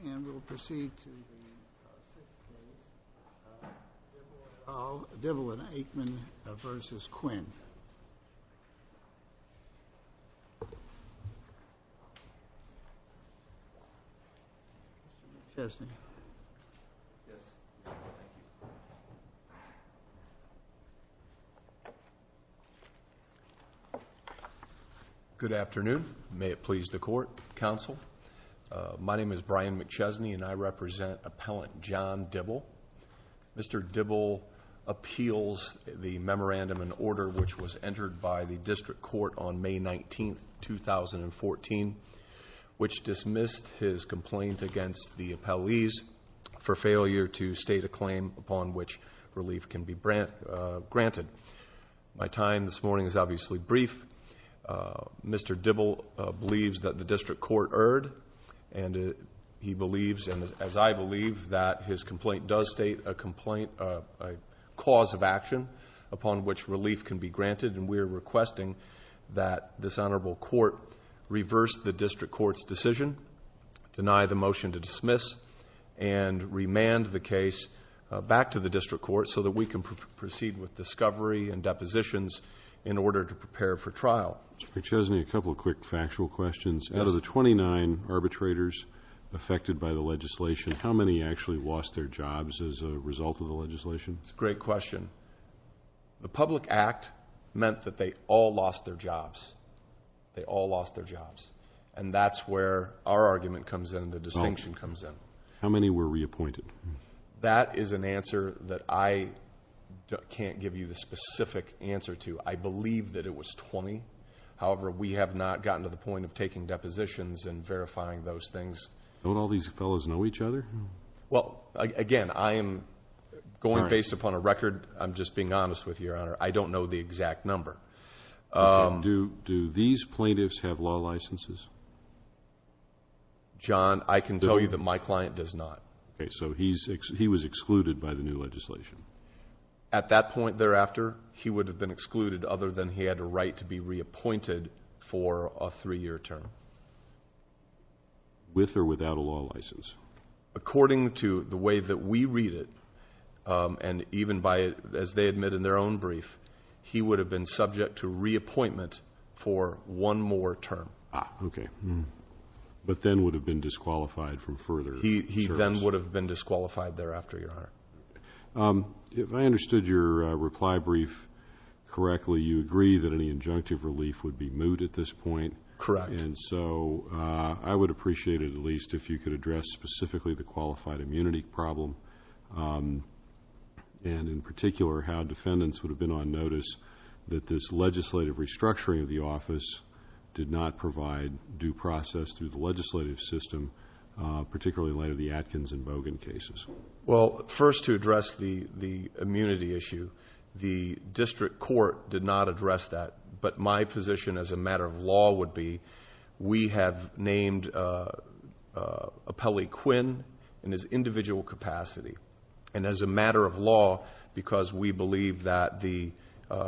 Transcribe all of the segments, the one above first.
And we'll proceed to the sixth case, Dibble v. Aitman v. Quinn. McChesney Good afternoon. May it please the Court, Counsel. My name is Brian McChesney and I represent Appellant John Dibble. Mr. Dibble appeals the memorandum and order which was entered by the District Court on May 19, 2014, which dismissed his complaint against the appellees for failure to state a claim upon which relief can be granted. My time this morning is obviously brief. Mr. Dibble believes that the District Court erred and he believes, as I believe, that his complaint does state a cause of action upon which relief can be granted, and we are requesting that this Honorable Court reverse the District Court's decision, deny the motion to dismiss, and remand the case back to the District Court so that we can proceed with discovery and depositions in order to prepare for trial. Mr. McChesney, a couple of quick factual questions. Out of the 29 arbitrators affected by the of the legislation? Mr. McChesney That's a great question. The Public Act meant that they all lost their jobs. They all lost their jobs. And that's where our argument comes in, the distinction comes in. Mr. Dibble How many were reappointed? Mr. McChesney That is an answer that I can't give you the specific answer to. I believe that it was 20. However, we have not gotten to the point of taking depositions and verifying those things. Mr. Dibble Don't all these fellows know each other? Mr. McChesney Well, again, I am going based upon a record. I'm just being honest with you, Your Honor. I don't know the exact number. Mr. Dibble Do these plaintiffs have law licenses? Mr. McChesney John, I can tell you that my client does not. Mr. Dibble Okay, so he was excluded by the new legislation? Mr. McChesney At that point thereafter, he would have been excluded other than he had a right to be reappointed for a three-year term. Mr. Dibble With or without a law license? Mr. McChesney According to the way that we read it, and even as they admit in their own brief, he would have been subject to reappointment for one more term. Mr. Dibble Ah, okay. But then would have been disqualified from further terms? Mr. McChesney He then would have been disqualified thereafter, Your Honor. Mr. Dibble If I understood your reply brief correctly, you agree that any injunctive relief would be moot at this point? Mr. McChesney Correct. Mr. Dibble And so, I would appreciate it at least if you could address specifically the qualified immunity problem, and in particular how defendants would have been on notice that this legislative restructuring of the office did not provide due process through the legislative system, particularly later the Atkins and Bogan cases? Mr. McChesney Well, first to address the immunity issue, the district court did not address that, but my position as a matter of fact, we have named Appellee Quinn in his individual capacity, and as a matter of law, because we believe that the,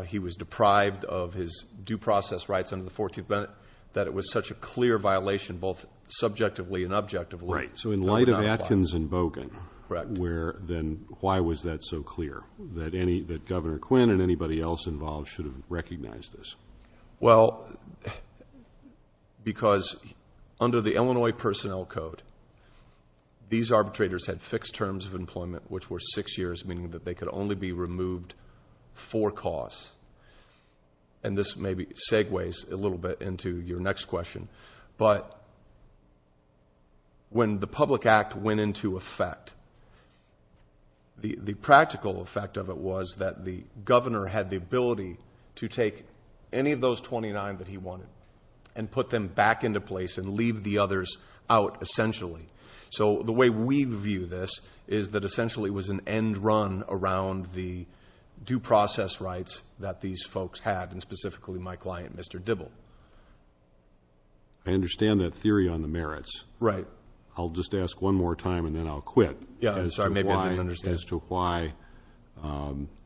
he was deprived of his due process rights under the 14th Amendment, that it was such a clear violation both subjectively and objectively, that would not apply. Mr. Dibble Right. So, in light of Atkins and Bogan, where then why was that so clear, that any, that Governor Quinn and anybody else involved should have recognized this? Mr. McChesney Well, because under the Illinois Personnel Code, these arbitrators had fixed terms of employment, which were six years, meaning that they could only be removed for cause, and this maybe segues a little bit into your next question, but when the Public Act went into effect, the practical effect of it was that the Governor had the many of those twenty-nine that he wanted, and put them back into place and leave the others out essentially. So the way we view this, is that essentially it was an end run around the due process rights that these folks had, and specifically my client, Mr. Dibble. Mr. Dibble I understand that theory on the merits. Mr. McChesney Right. Mr. Dibble I'll just ask one more time and then I'll quit... Mr. McChesney Yeah, I'm sorry, maybe I didn't understand. As to why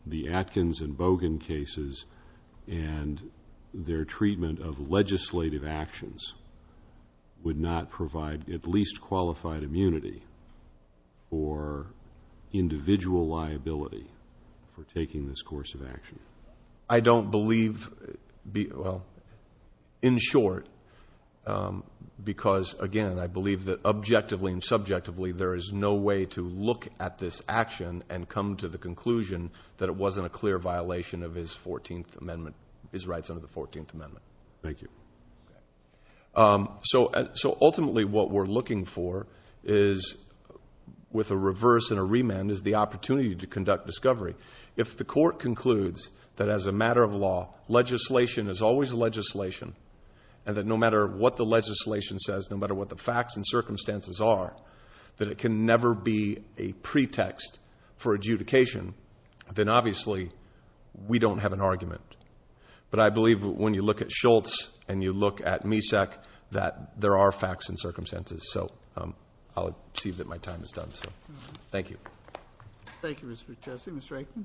the Atkins and Bogan cases and their treatment of legislative actions would not provide at least qualified immunity or individual liability for taking this course of action? Mr. Dibble I don't believe... in short, because again, I believe that objectively and subjectively there is no way to look at this action and come to the conclusion that it wasn't a clear violation of his Fourteenth Amendment... his rights under the Fourteenth Amendment. Mr. McChesney Thank you. Mr. Dibble So ultimately what we're looking for is, with a reverse and a remand, is the opportunity to conduct discovery. If the court concludes that as a matter of law, legislation is always legislation, and that no matter what the legislation says, no matter what the facts and adjudication, then obviously we don't have an argument. But I believe when you look at Shultz and you look at MESAC, that there are facts and circumstances. So I'll see that my time is done. Thank you. Mr. Ackman Thank you, Mr. McChesney. Mr. Aikman Mr.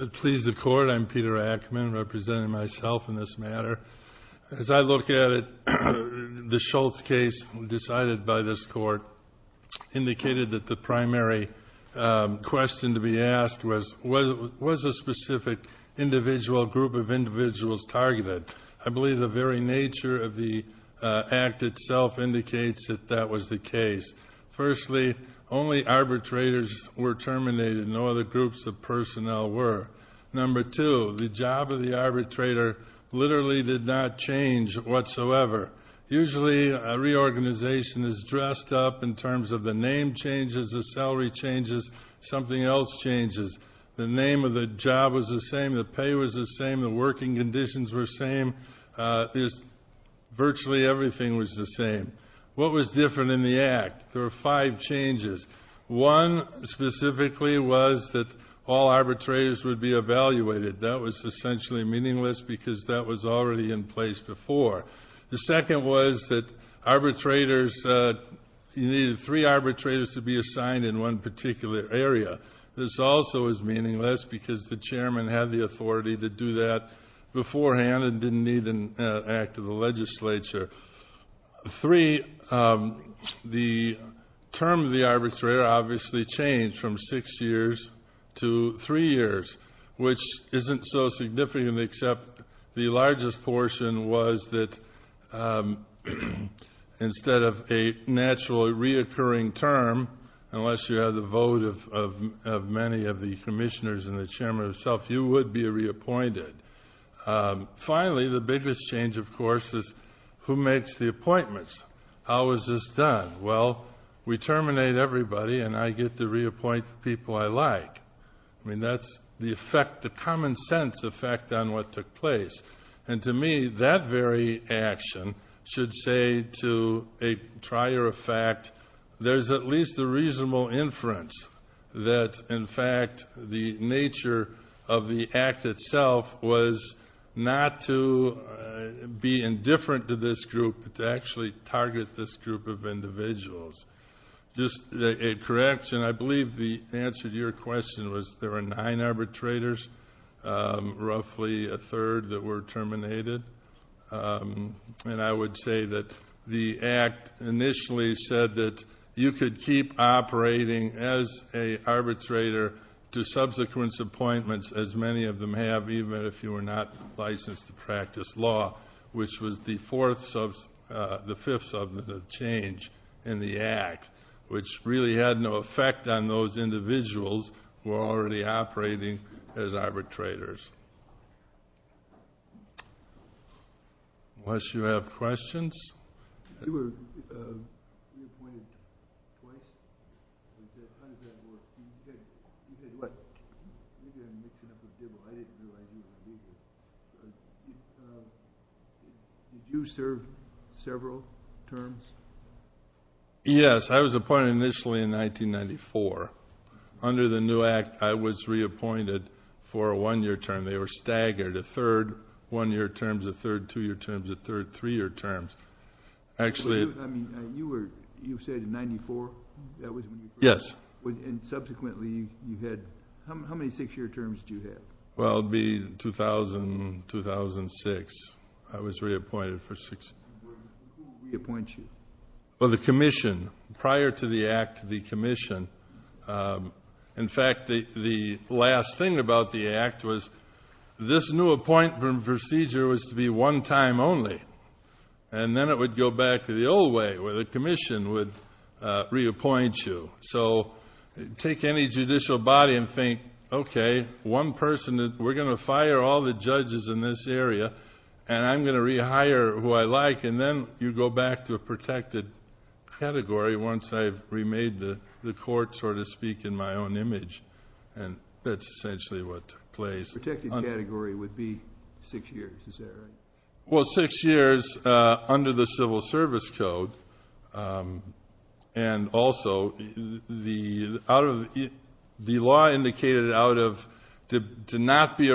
Aikman Please the Court, I'm Peter Aikman, representing myself in this matter. As I look at it, the Shultz case decided by this Court indicated that the primary question to be asked was, was a specific individual, group of individuals targeted? I believe the very nature of the act itself indicates that that was the case. Firstly, only arbitrators were terminated, no other groups of personnel were. Number two, the job of the arbitrator literally did not change whatsoever. Usually a reorganization is dressed up in terms of the name changes, the salary changes, something else changes. The name of the job was the same, the pay was the same, the working conditions were the same, virtually everything was the same. What was different in the act? There were five changes. One specifically was that all arbitrators would be evaluated. That was essentially meaningless because that was already in place before. The second was that arbitrators, you needed three arbitrators to be assigned in one particular area. This also was meaningless because the chairman had the authority to do that beforehand and didn't need an act of the legislature. Three, the term of the arbitrator obviously changed from six years to three years, which isn't so significant except the largest portion was that instead of a naturally reoccurring term, unless you have the vote of many of the commissioners and the chairman himself, you would be reappointed. Finally, the biggest change of course is who makes the appointments? How is this done? Well, we terminate everybody and I get to reappoint people I like. That's the effect, the common sense effect on what took place. To me, that very action should say to a trier of fact, there's at least a reasonable inference that in fact the nature of the act itself was not to be indifferent to this group, but to actually target this group of individuals. I believe the answer to your question was there were nine arbitrators, roughly a third that were terminated. I would say that the act initially said that you could keep operating as an arbitrator to subsequent appointments as many of them have, even if you were not licensed to practice law, which was the fifth substantive change in the act, which really had no effect on those individuals who were already operating as arbitrators. Unless you have questions? You were reappointed twice. You said you were going to mix it up a bit. I didn't realize you were going to do this. Did you serve several terms? Yes, I was appointed initially in 1994. Under the new act, I was reappointed for a one-year term. They were staggered, a third one-year terms, a third two-year terms, a third three-year terms. You said in 94? Yes. Subsequently, how many six-year terms did you have? It would be 2000, 2006. I was reappointed for six years. Who would reappoint you? The commission, prior to the act, the commission. In fact, the last thing about the act was this new appointment procedure was to be one time only. Then it would go back to the old way, where the commission would reappoint you. Take any judicial body and think, okay, one person, we're going to fire all the judges in this area, and I'm going to rehire who I like. Then you go back to a protected category once I've remade the court, so to speak, in my own image. That's essentially what took place. A protected category would be six years. Is that right? Six years under the Civil Service Code. Also, the law indicated out of... to not be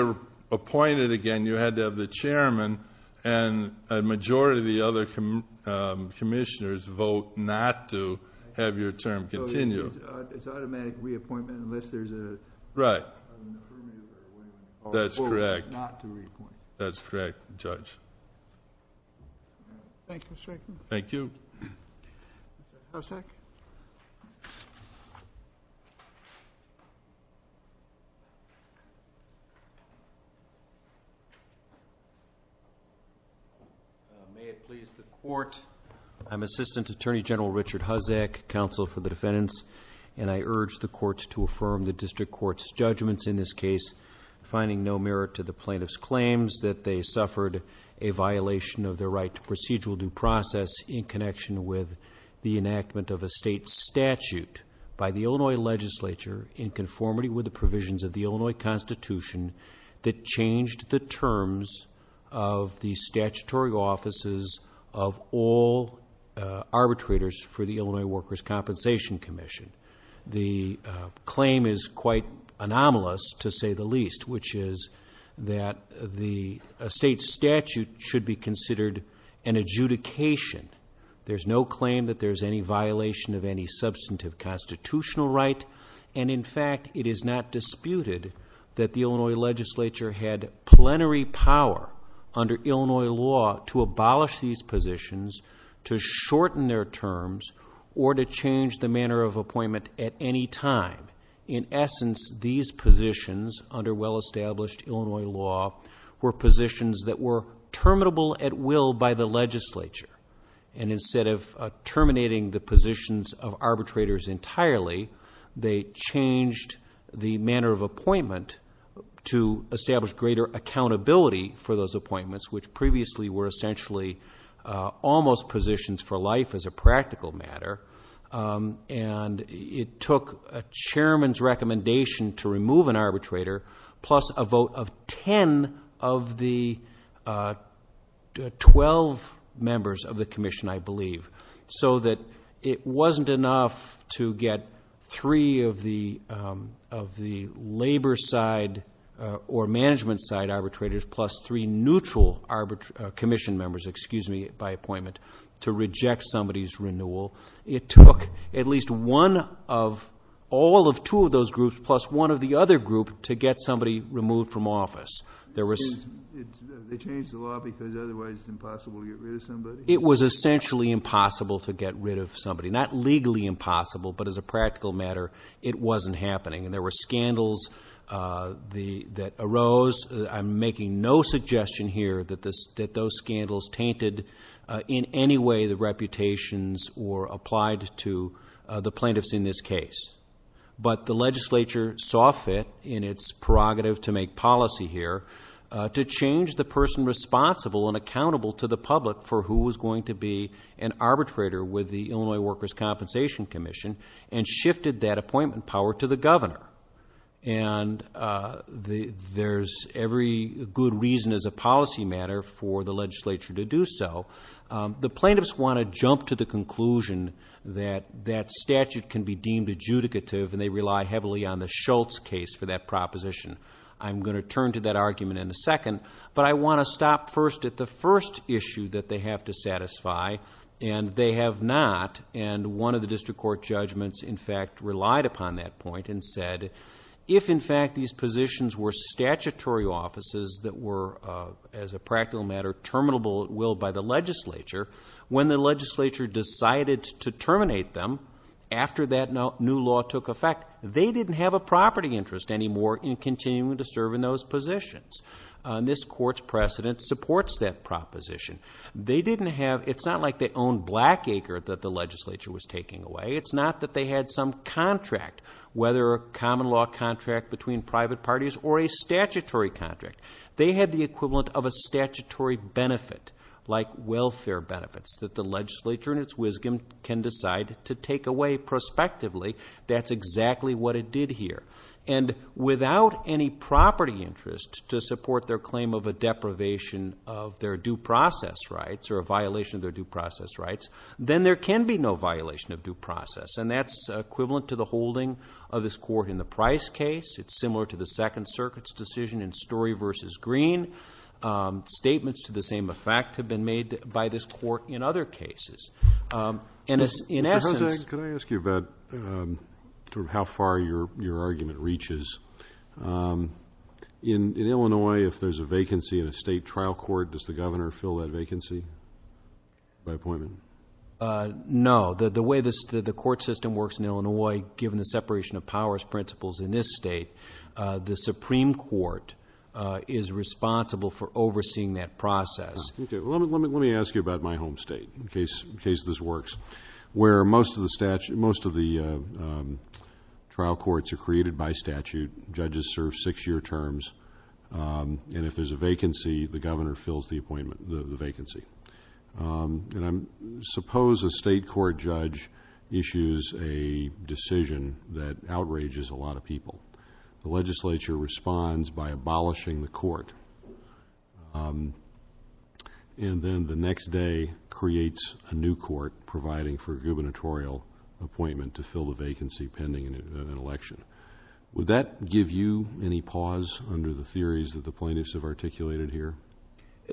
appointed again, you had to have the chairman and a majority of the other commissioners vote not to have your term continue. It's automatic reappointment unless there's a... Right.... That's correct............. Thank you. Mr. Hosek? May it please the court, I'm Assistant Attorney General Richard Hosek, Counsel for the Defendants, and I urge the courts to affirm the district court's judgments in this case, finding no merit to the plaintiff's claims that they suffered a violation of their right to procedural due process in connection with the enactment of a state statute by the Illinois legislature in conformity with the provisions of the Illinois Constitution that changed the terms of the statutory offices of all arbitrators for the Illinois Workers' Compensation Commission. The claim is quite anomalous, to say the least, which is that the state statute should be adjudication. There's no claim that there's any violation of any substantive constitutional right, and in fact, it is not disputed that the Illinois legislature had plenary power under Illinois law to abolish these positions, to shorten their terms, or to change the manner of appointment at any time. In essence, these positions under well-established Illinois law were positions that were terminable at will by the legislature, and instead of terminating the positions of arbitrators entirely, they changed the manner of appointment to establish greater accountability for those appointments, which previously were essentially almost positions for life as a practical matter, and it took a chairman's recommendation to remove an arbitrator plus a vote of ten of the 12 members of the commission, I believe, so that it wasn't enough to get three of the labor side or management side arbitrators plus three neutral commission members, excuse me, by appointment to reject somebody's renewal. It took at least one of all of two of those groups plus one of the other group to get somebody removed from office. They changed the law because otherwise it's impossible to get rid of somebody? It was essentially impossible to get rid of somebody, not legally impossible, but as a practical matter, it wasn't happening, and there were scandals that arose. I'm making no suggestion here that those scandals tainted in any way the reputations or applied to the plaintiffs in this case, but the legislature saw fit in its prerogative to make policy here to change the person responsible and accountable to the public for who was going to be an arbitrator with the Illinois Workers' Compensation Commission and shifted that appointment power to the governor, and there's every good reason as a policy matter for the legislature to do so. The plaintiffs want to jump to the conclusion that that statute can be deemed adjudicative and they rely heavily on the Schultz case for that proposition. I'm going to turn to that argument in a second, but I want to stop first at the first issue that they have to satisfy, and they have not, and one of the district court judgments in fact relied upon that point and said, if in fact these positions were statutory offices that were, as a practical matter, terminable at will by the legislature, when the legislature decided to terminate them after that new law took effect, they didn't have a property interest anymore in continuing to serve in those positions. This court's precedent supports that proposition. They didn't have, it's not like they owned Blackacre that the legislature was taking away. It's not that they had some contract, whether a common law contract between private parties or a statutory contract. They had the equivalent of a statutory benefit, like welfare benefits, that the legislature in its wisdom can decide to take away prospectively. That's exactly what it did here, and without any property interest to support their claim of a deprivation of their due process rights or a violation of their due process rights, then there can be no violation of due process, and that's equivalent to the holding of this court in the Price case. It's similar to the Second Circuit's decision in Story v. Green. Statements to the same effect have been made by this court in other cases, and in essence Can I ask you about how far your argument reaches? In Illinois, if there's a vacancy in a state trial court, does the governor fill that vacancy by appointment? No. The way the court system works in Illinois, given the separation of powers principles in this state, the Supreme Court is responsible for overseeing that process. Let me ask you about my home state, in case this works. Where most of the trial courts are created by statute, judges serve six-year terms, and if there's a vacancy, the governor fills the vacancy. Suppose a state court judge issues a decision that outrages a lot of people. The legislature responds by abolishing the court, and then the next day creates a new court providing for a gubernatorial appointment to fill the vacancy pending an election. Would that give you any pause under the theories that the plaintiffs have articulated here?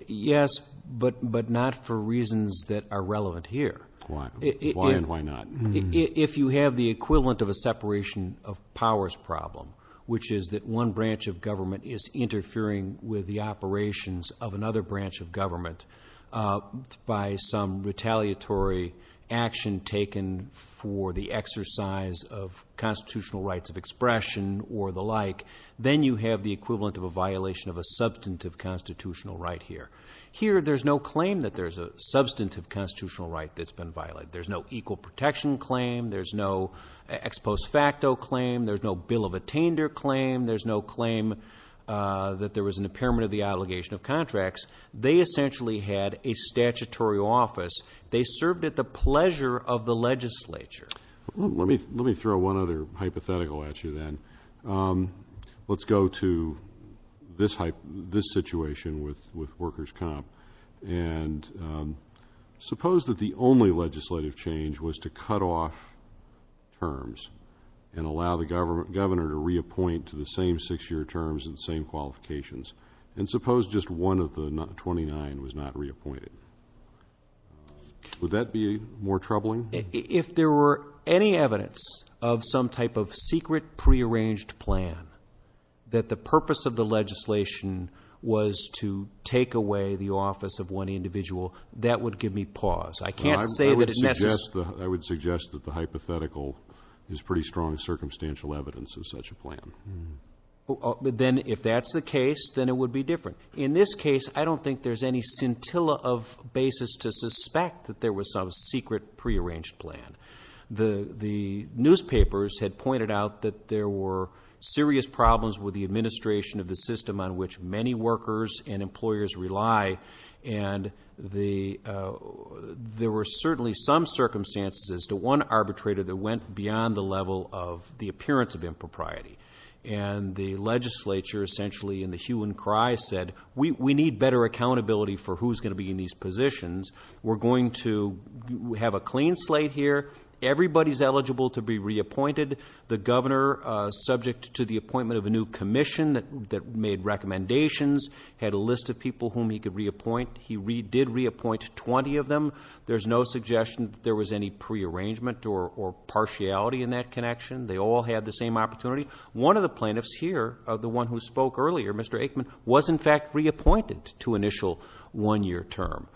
Yes, but not for reasons that are relevant here. Why? Why and why not? If you have the equivalent of a separation of powers problem, which is that one branch of government is interfering with the operations of another branch of government by some retaliatory action taken for the exercise of constitutional rights of expression or the like, then you have the equivalent of a violation of a substantive constitutional right here. Here, there's no claim that there's a substantive constitutional right that's been violated. There's no equal protection claim. There's no ex post facto claim. There's no bill of attainder claim. There's no claim that there was an impairment of the obligation of contracts. They essentially had a statutory office. They served at the pleasure of the legislature. Let me throw one other hypothetical at you then. Let's go to this situation with workers' comp. And suppose that the only legislative change was to cut off terms and allow the governor to reappoint to the same six-year terms and same qualifications. And suppose just one of the 29 was not reappointed. Would that be more troubling? If there were any evidence of some type of secret, prearranged plan, that the purpose of the legislation was to take away the office of one individual, that would give me pause. I can't say that it's necessary. I would suggest that the hypothetical is pretty strong circumstantial evidence of such a plan. Then if that's the case, then it would be different. In this case, I don't think there's any scintilla of basis to suspect that there was some secret, prearranged plan. The newspapers had pointed out that there were serious problems with the administration of the system on which many workers and employers rely. And there were certainly some circumstances as to one arbitrator that went beyond the level of the appearance of impropriety. And the legislature essentially in the hue and cry said, we need better accountability for who's going to be in these positions. We're going to have a clean slate here. Everybody's eligible to be reappointed. The governor, subject to the appointment of a new commission that made recommendations, had a list of people whom he could reappoint. He did reappoint 20 of them. There's no suggestion that there was any prearrangement or partiality in that connection. They all had the same opportunity. One of the plaintiffs here, the one who spoke earlier, Mr. Aikman, was in fact reappointed to initial one-year term.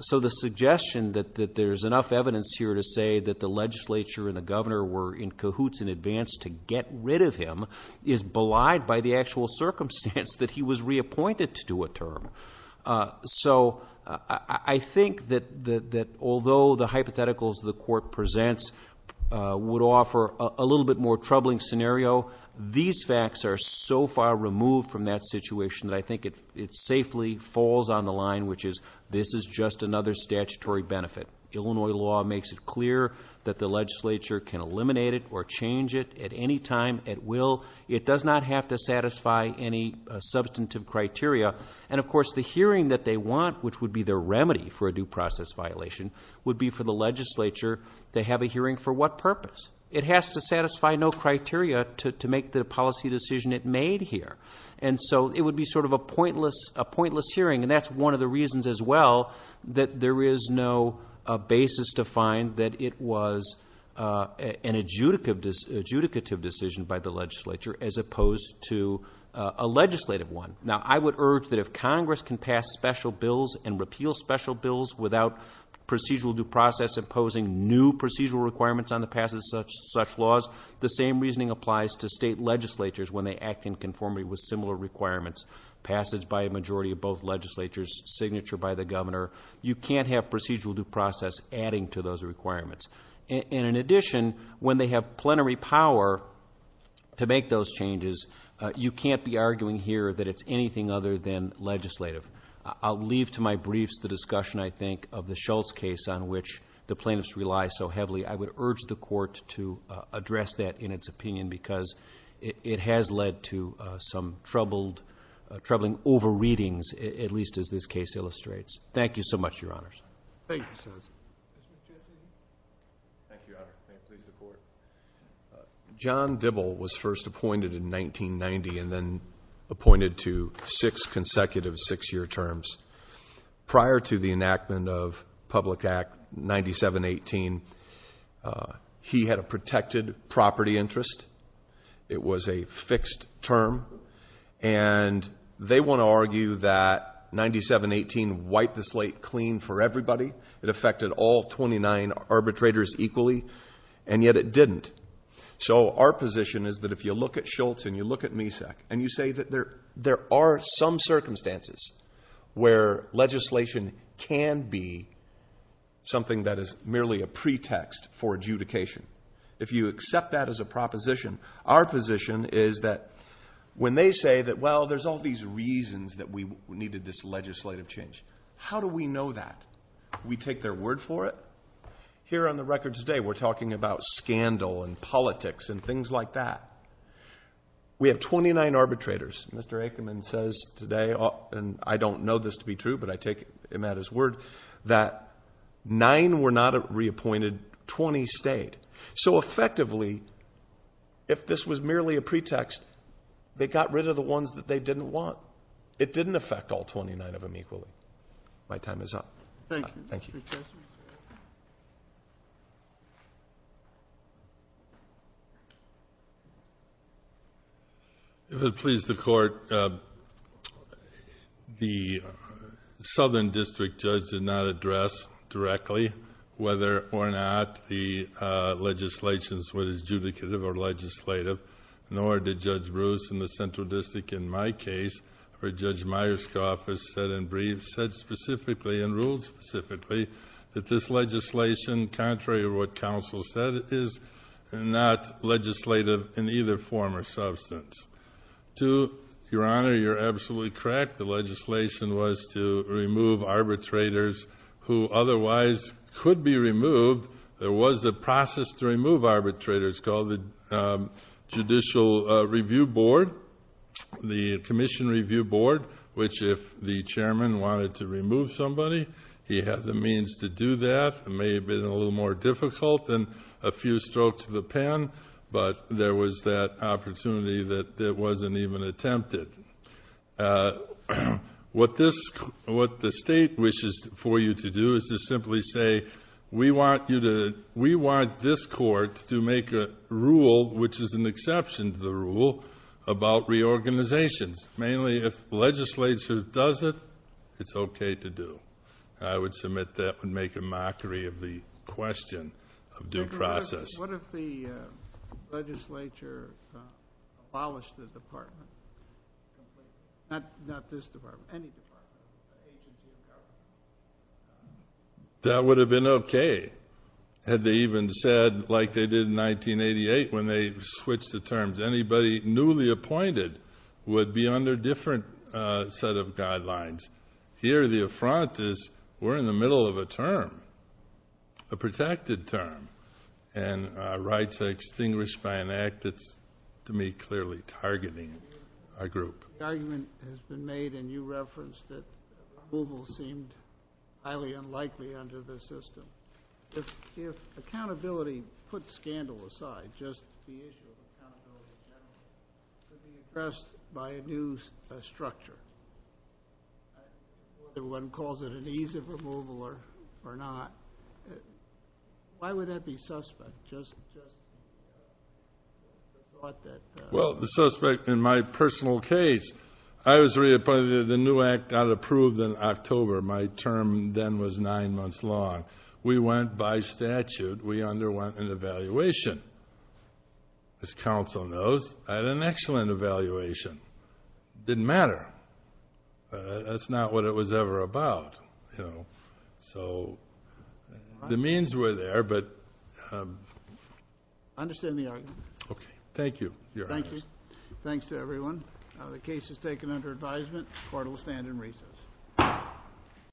So the suggestion that there's enough evidence here to say that the legislature and the governor were in cahoots in advance to get rid of him is belied by the actual circumstance that he was reappointed to do a term. So I think that although the hypotheticals the court presents would offer a little bit more troubling scenario, these facts are so far removed from that situation that I think it safely falls on the line, which is this is just another statutory benefit. Illinois law makes it clear that the legislature can eliminate it or change it at any time at will. It does not have to satisfy any substantive criteria. And of course the hearing that they want, which would be their remedy for a due process violation, would be for the legislature to have a hearing for what purpose? It has to satisfy no criteria to make the policy decision it made here. And so it would be sort of a pointless hearing, and that's one of the reasons as well that there is no basis to find that it was an adjudicative decision by the legislature as opposed to a legislative one. Now I would urge that if Congress can pass special bills and repeal special bills without procedural due process imposing new procedural requirements on the passage of such laws, the same reasoning applies to state legislatures when they act in conformity with similar requirements passed by a majority of both legislatures, signature by the governor. You can't have procedural due process adding to those requirements. And in addition, when they have plenary power to make those changes, you can't be arguing here that it's anything other than legislative. I'll leave to my briefs the discussion, I think, of the Shultz case on which the plaintiffs rely so heavily. I would urge the court to address that in its opinion because it has led to some troubling over-readings, at least as this case illustrates. Thank you so much, Your Honors. Thank you, Justice. Mr. Chairman. Thank you, Your Honor. Thank you. The court. John Dibble was first appointed in 1990 and then appointed to six consecutive six-year terms. Prior to the enactment of Public Act 9718, he had a protected property interest. It was a fixed term. And they want to argue that 9718 wiped the slate clean for everybody. It affected all 29 arbitrators equally, and yet it didn't. So our position is that if you look at Shultz and you look at MESEC and you say that there are some circumstances where legislation can be something that is merely a pretext for adjudication, if you accept that as a proposition, our position is that when they say that, well, there's all these reasons that we needed this legislative change, how do we know that? We take their word for it. Here on the record today, we're talking about scandal and politics and things like that. We have 29 arbitrators. Mr. Aikman says today, and I don't know this to be true, but I take him at his word, that nine were not reappointed, 20 stayed. So effectively, if this was merely a pretext, they got rid of the ones that they didn't want. It didn't affect all 29 of them equally. My time is up. Thank you. If it pleases the Court, the Southern District Judge did not address directly whether or not the legislation was adjudicative or legislative, nor did Judge Bruce in the Central District in my case, where Judge Myerscoff is set in brief, said specifically and ruled specifically that this legislation, contrary to what counsel said, is not legislative in either form or substance. To Your Honor, you're absolutely correct. The legislation was to remove arbitrators who otherwise could be removed. There was a process to remove arbitrators called the Judicial Review Board, the Commission Review Board, which if the chairman wanted to remove somebody, he had the means to do that. It may have been a little more difficult than a few strokes of the pen, but there was that opportunity that wasn't even attempted. What the State wishes for you to do is to simply say, we want this Court to make a rule, which is an exception to the rule, about reorganizations. Mainly, if the legislature does it, it's okay to do. I would submit that would make a mockery of the question of due process. What if the legislature abolished the department? Not this department, any department. That would have been okay, had they even said like they did in 1988 when they switched the terms. Anybody newly appointed would be under a different set of guidelines. Here, the affront is, we're in the middle of a term, a protected term, and rights are extinguished by an act that's, to me, clearly targeting a group. The argument has been made, and you referenced, that removal seemed highly unlikely under this system. If accountability put scandal aside, just the issue of accountability, it would be addressed by a new structure. One calls it an ease of removal or not. Why would that be suspect? Well, the suspect in my personal case, I was reappointed, the new act got approved in October. My term then was nine months long. We went by statute. We underwent an evaluation. As counsel knows, I had an excellent evaluation. It didn't matter. That's not what it was ever about. So, the means were there, but... I understand the argument. Okay. Thank you. Thank you. Thanks to everyone. The case is taken under advisement. Court will stand in recess.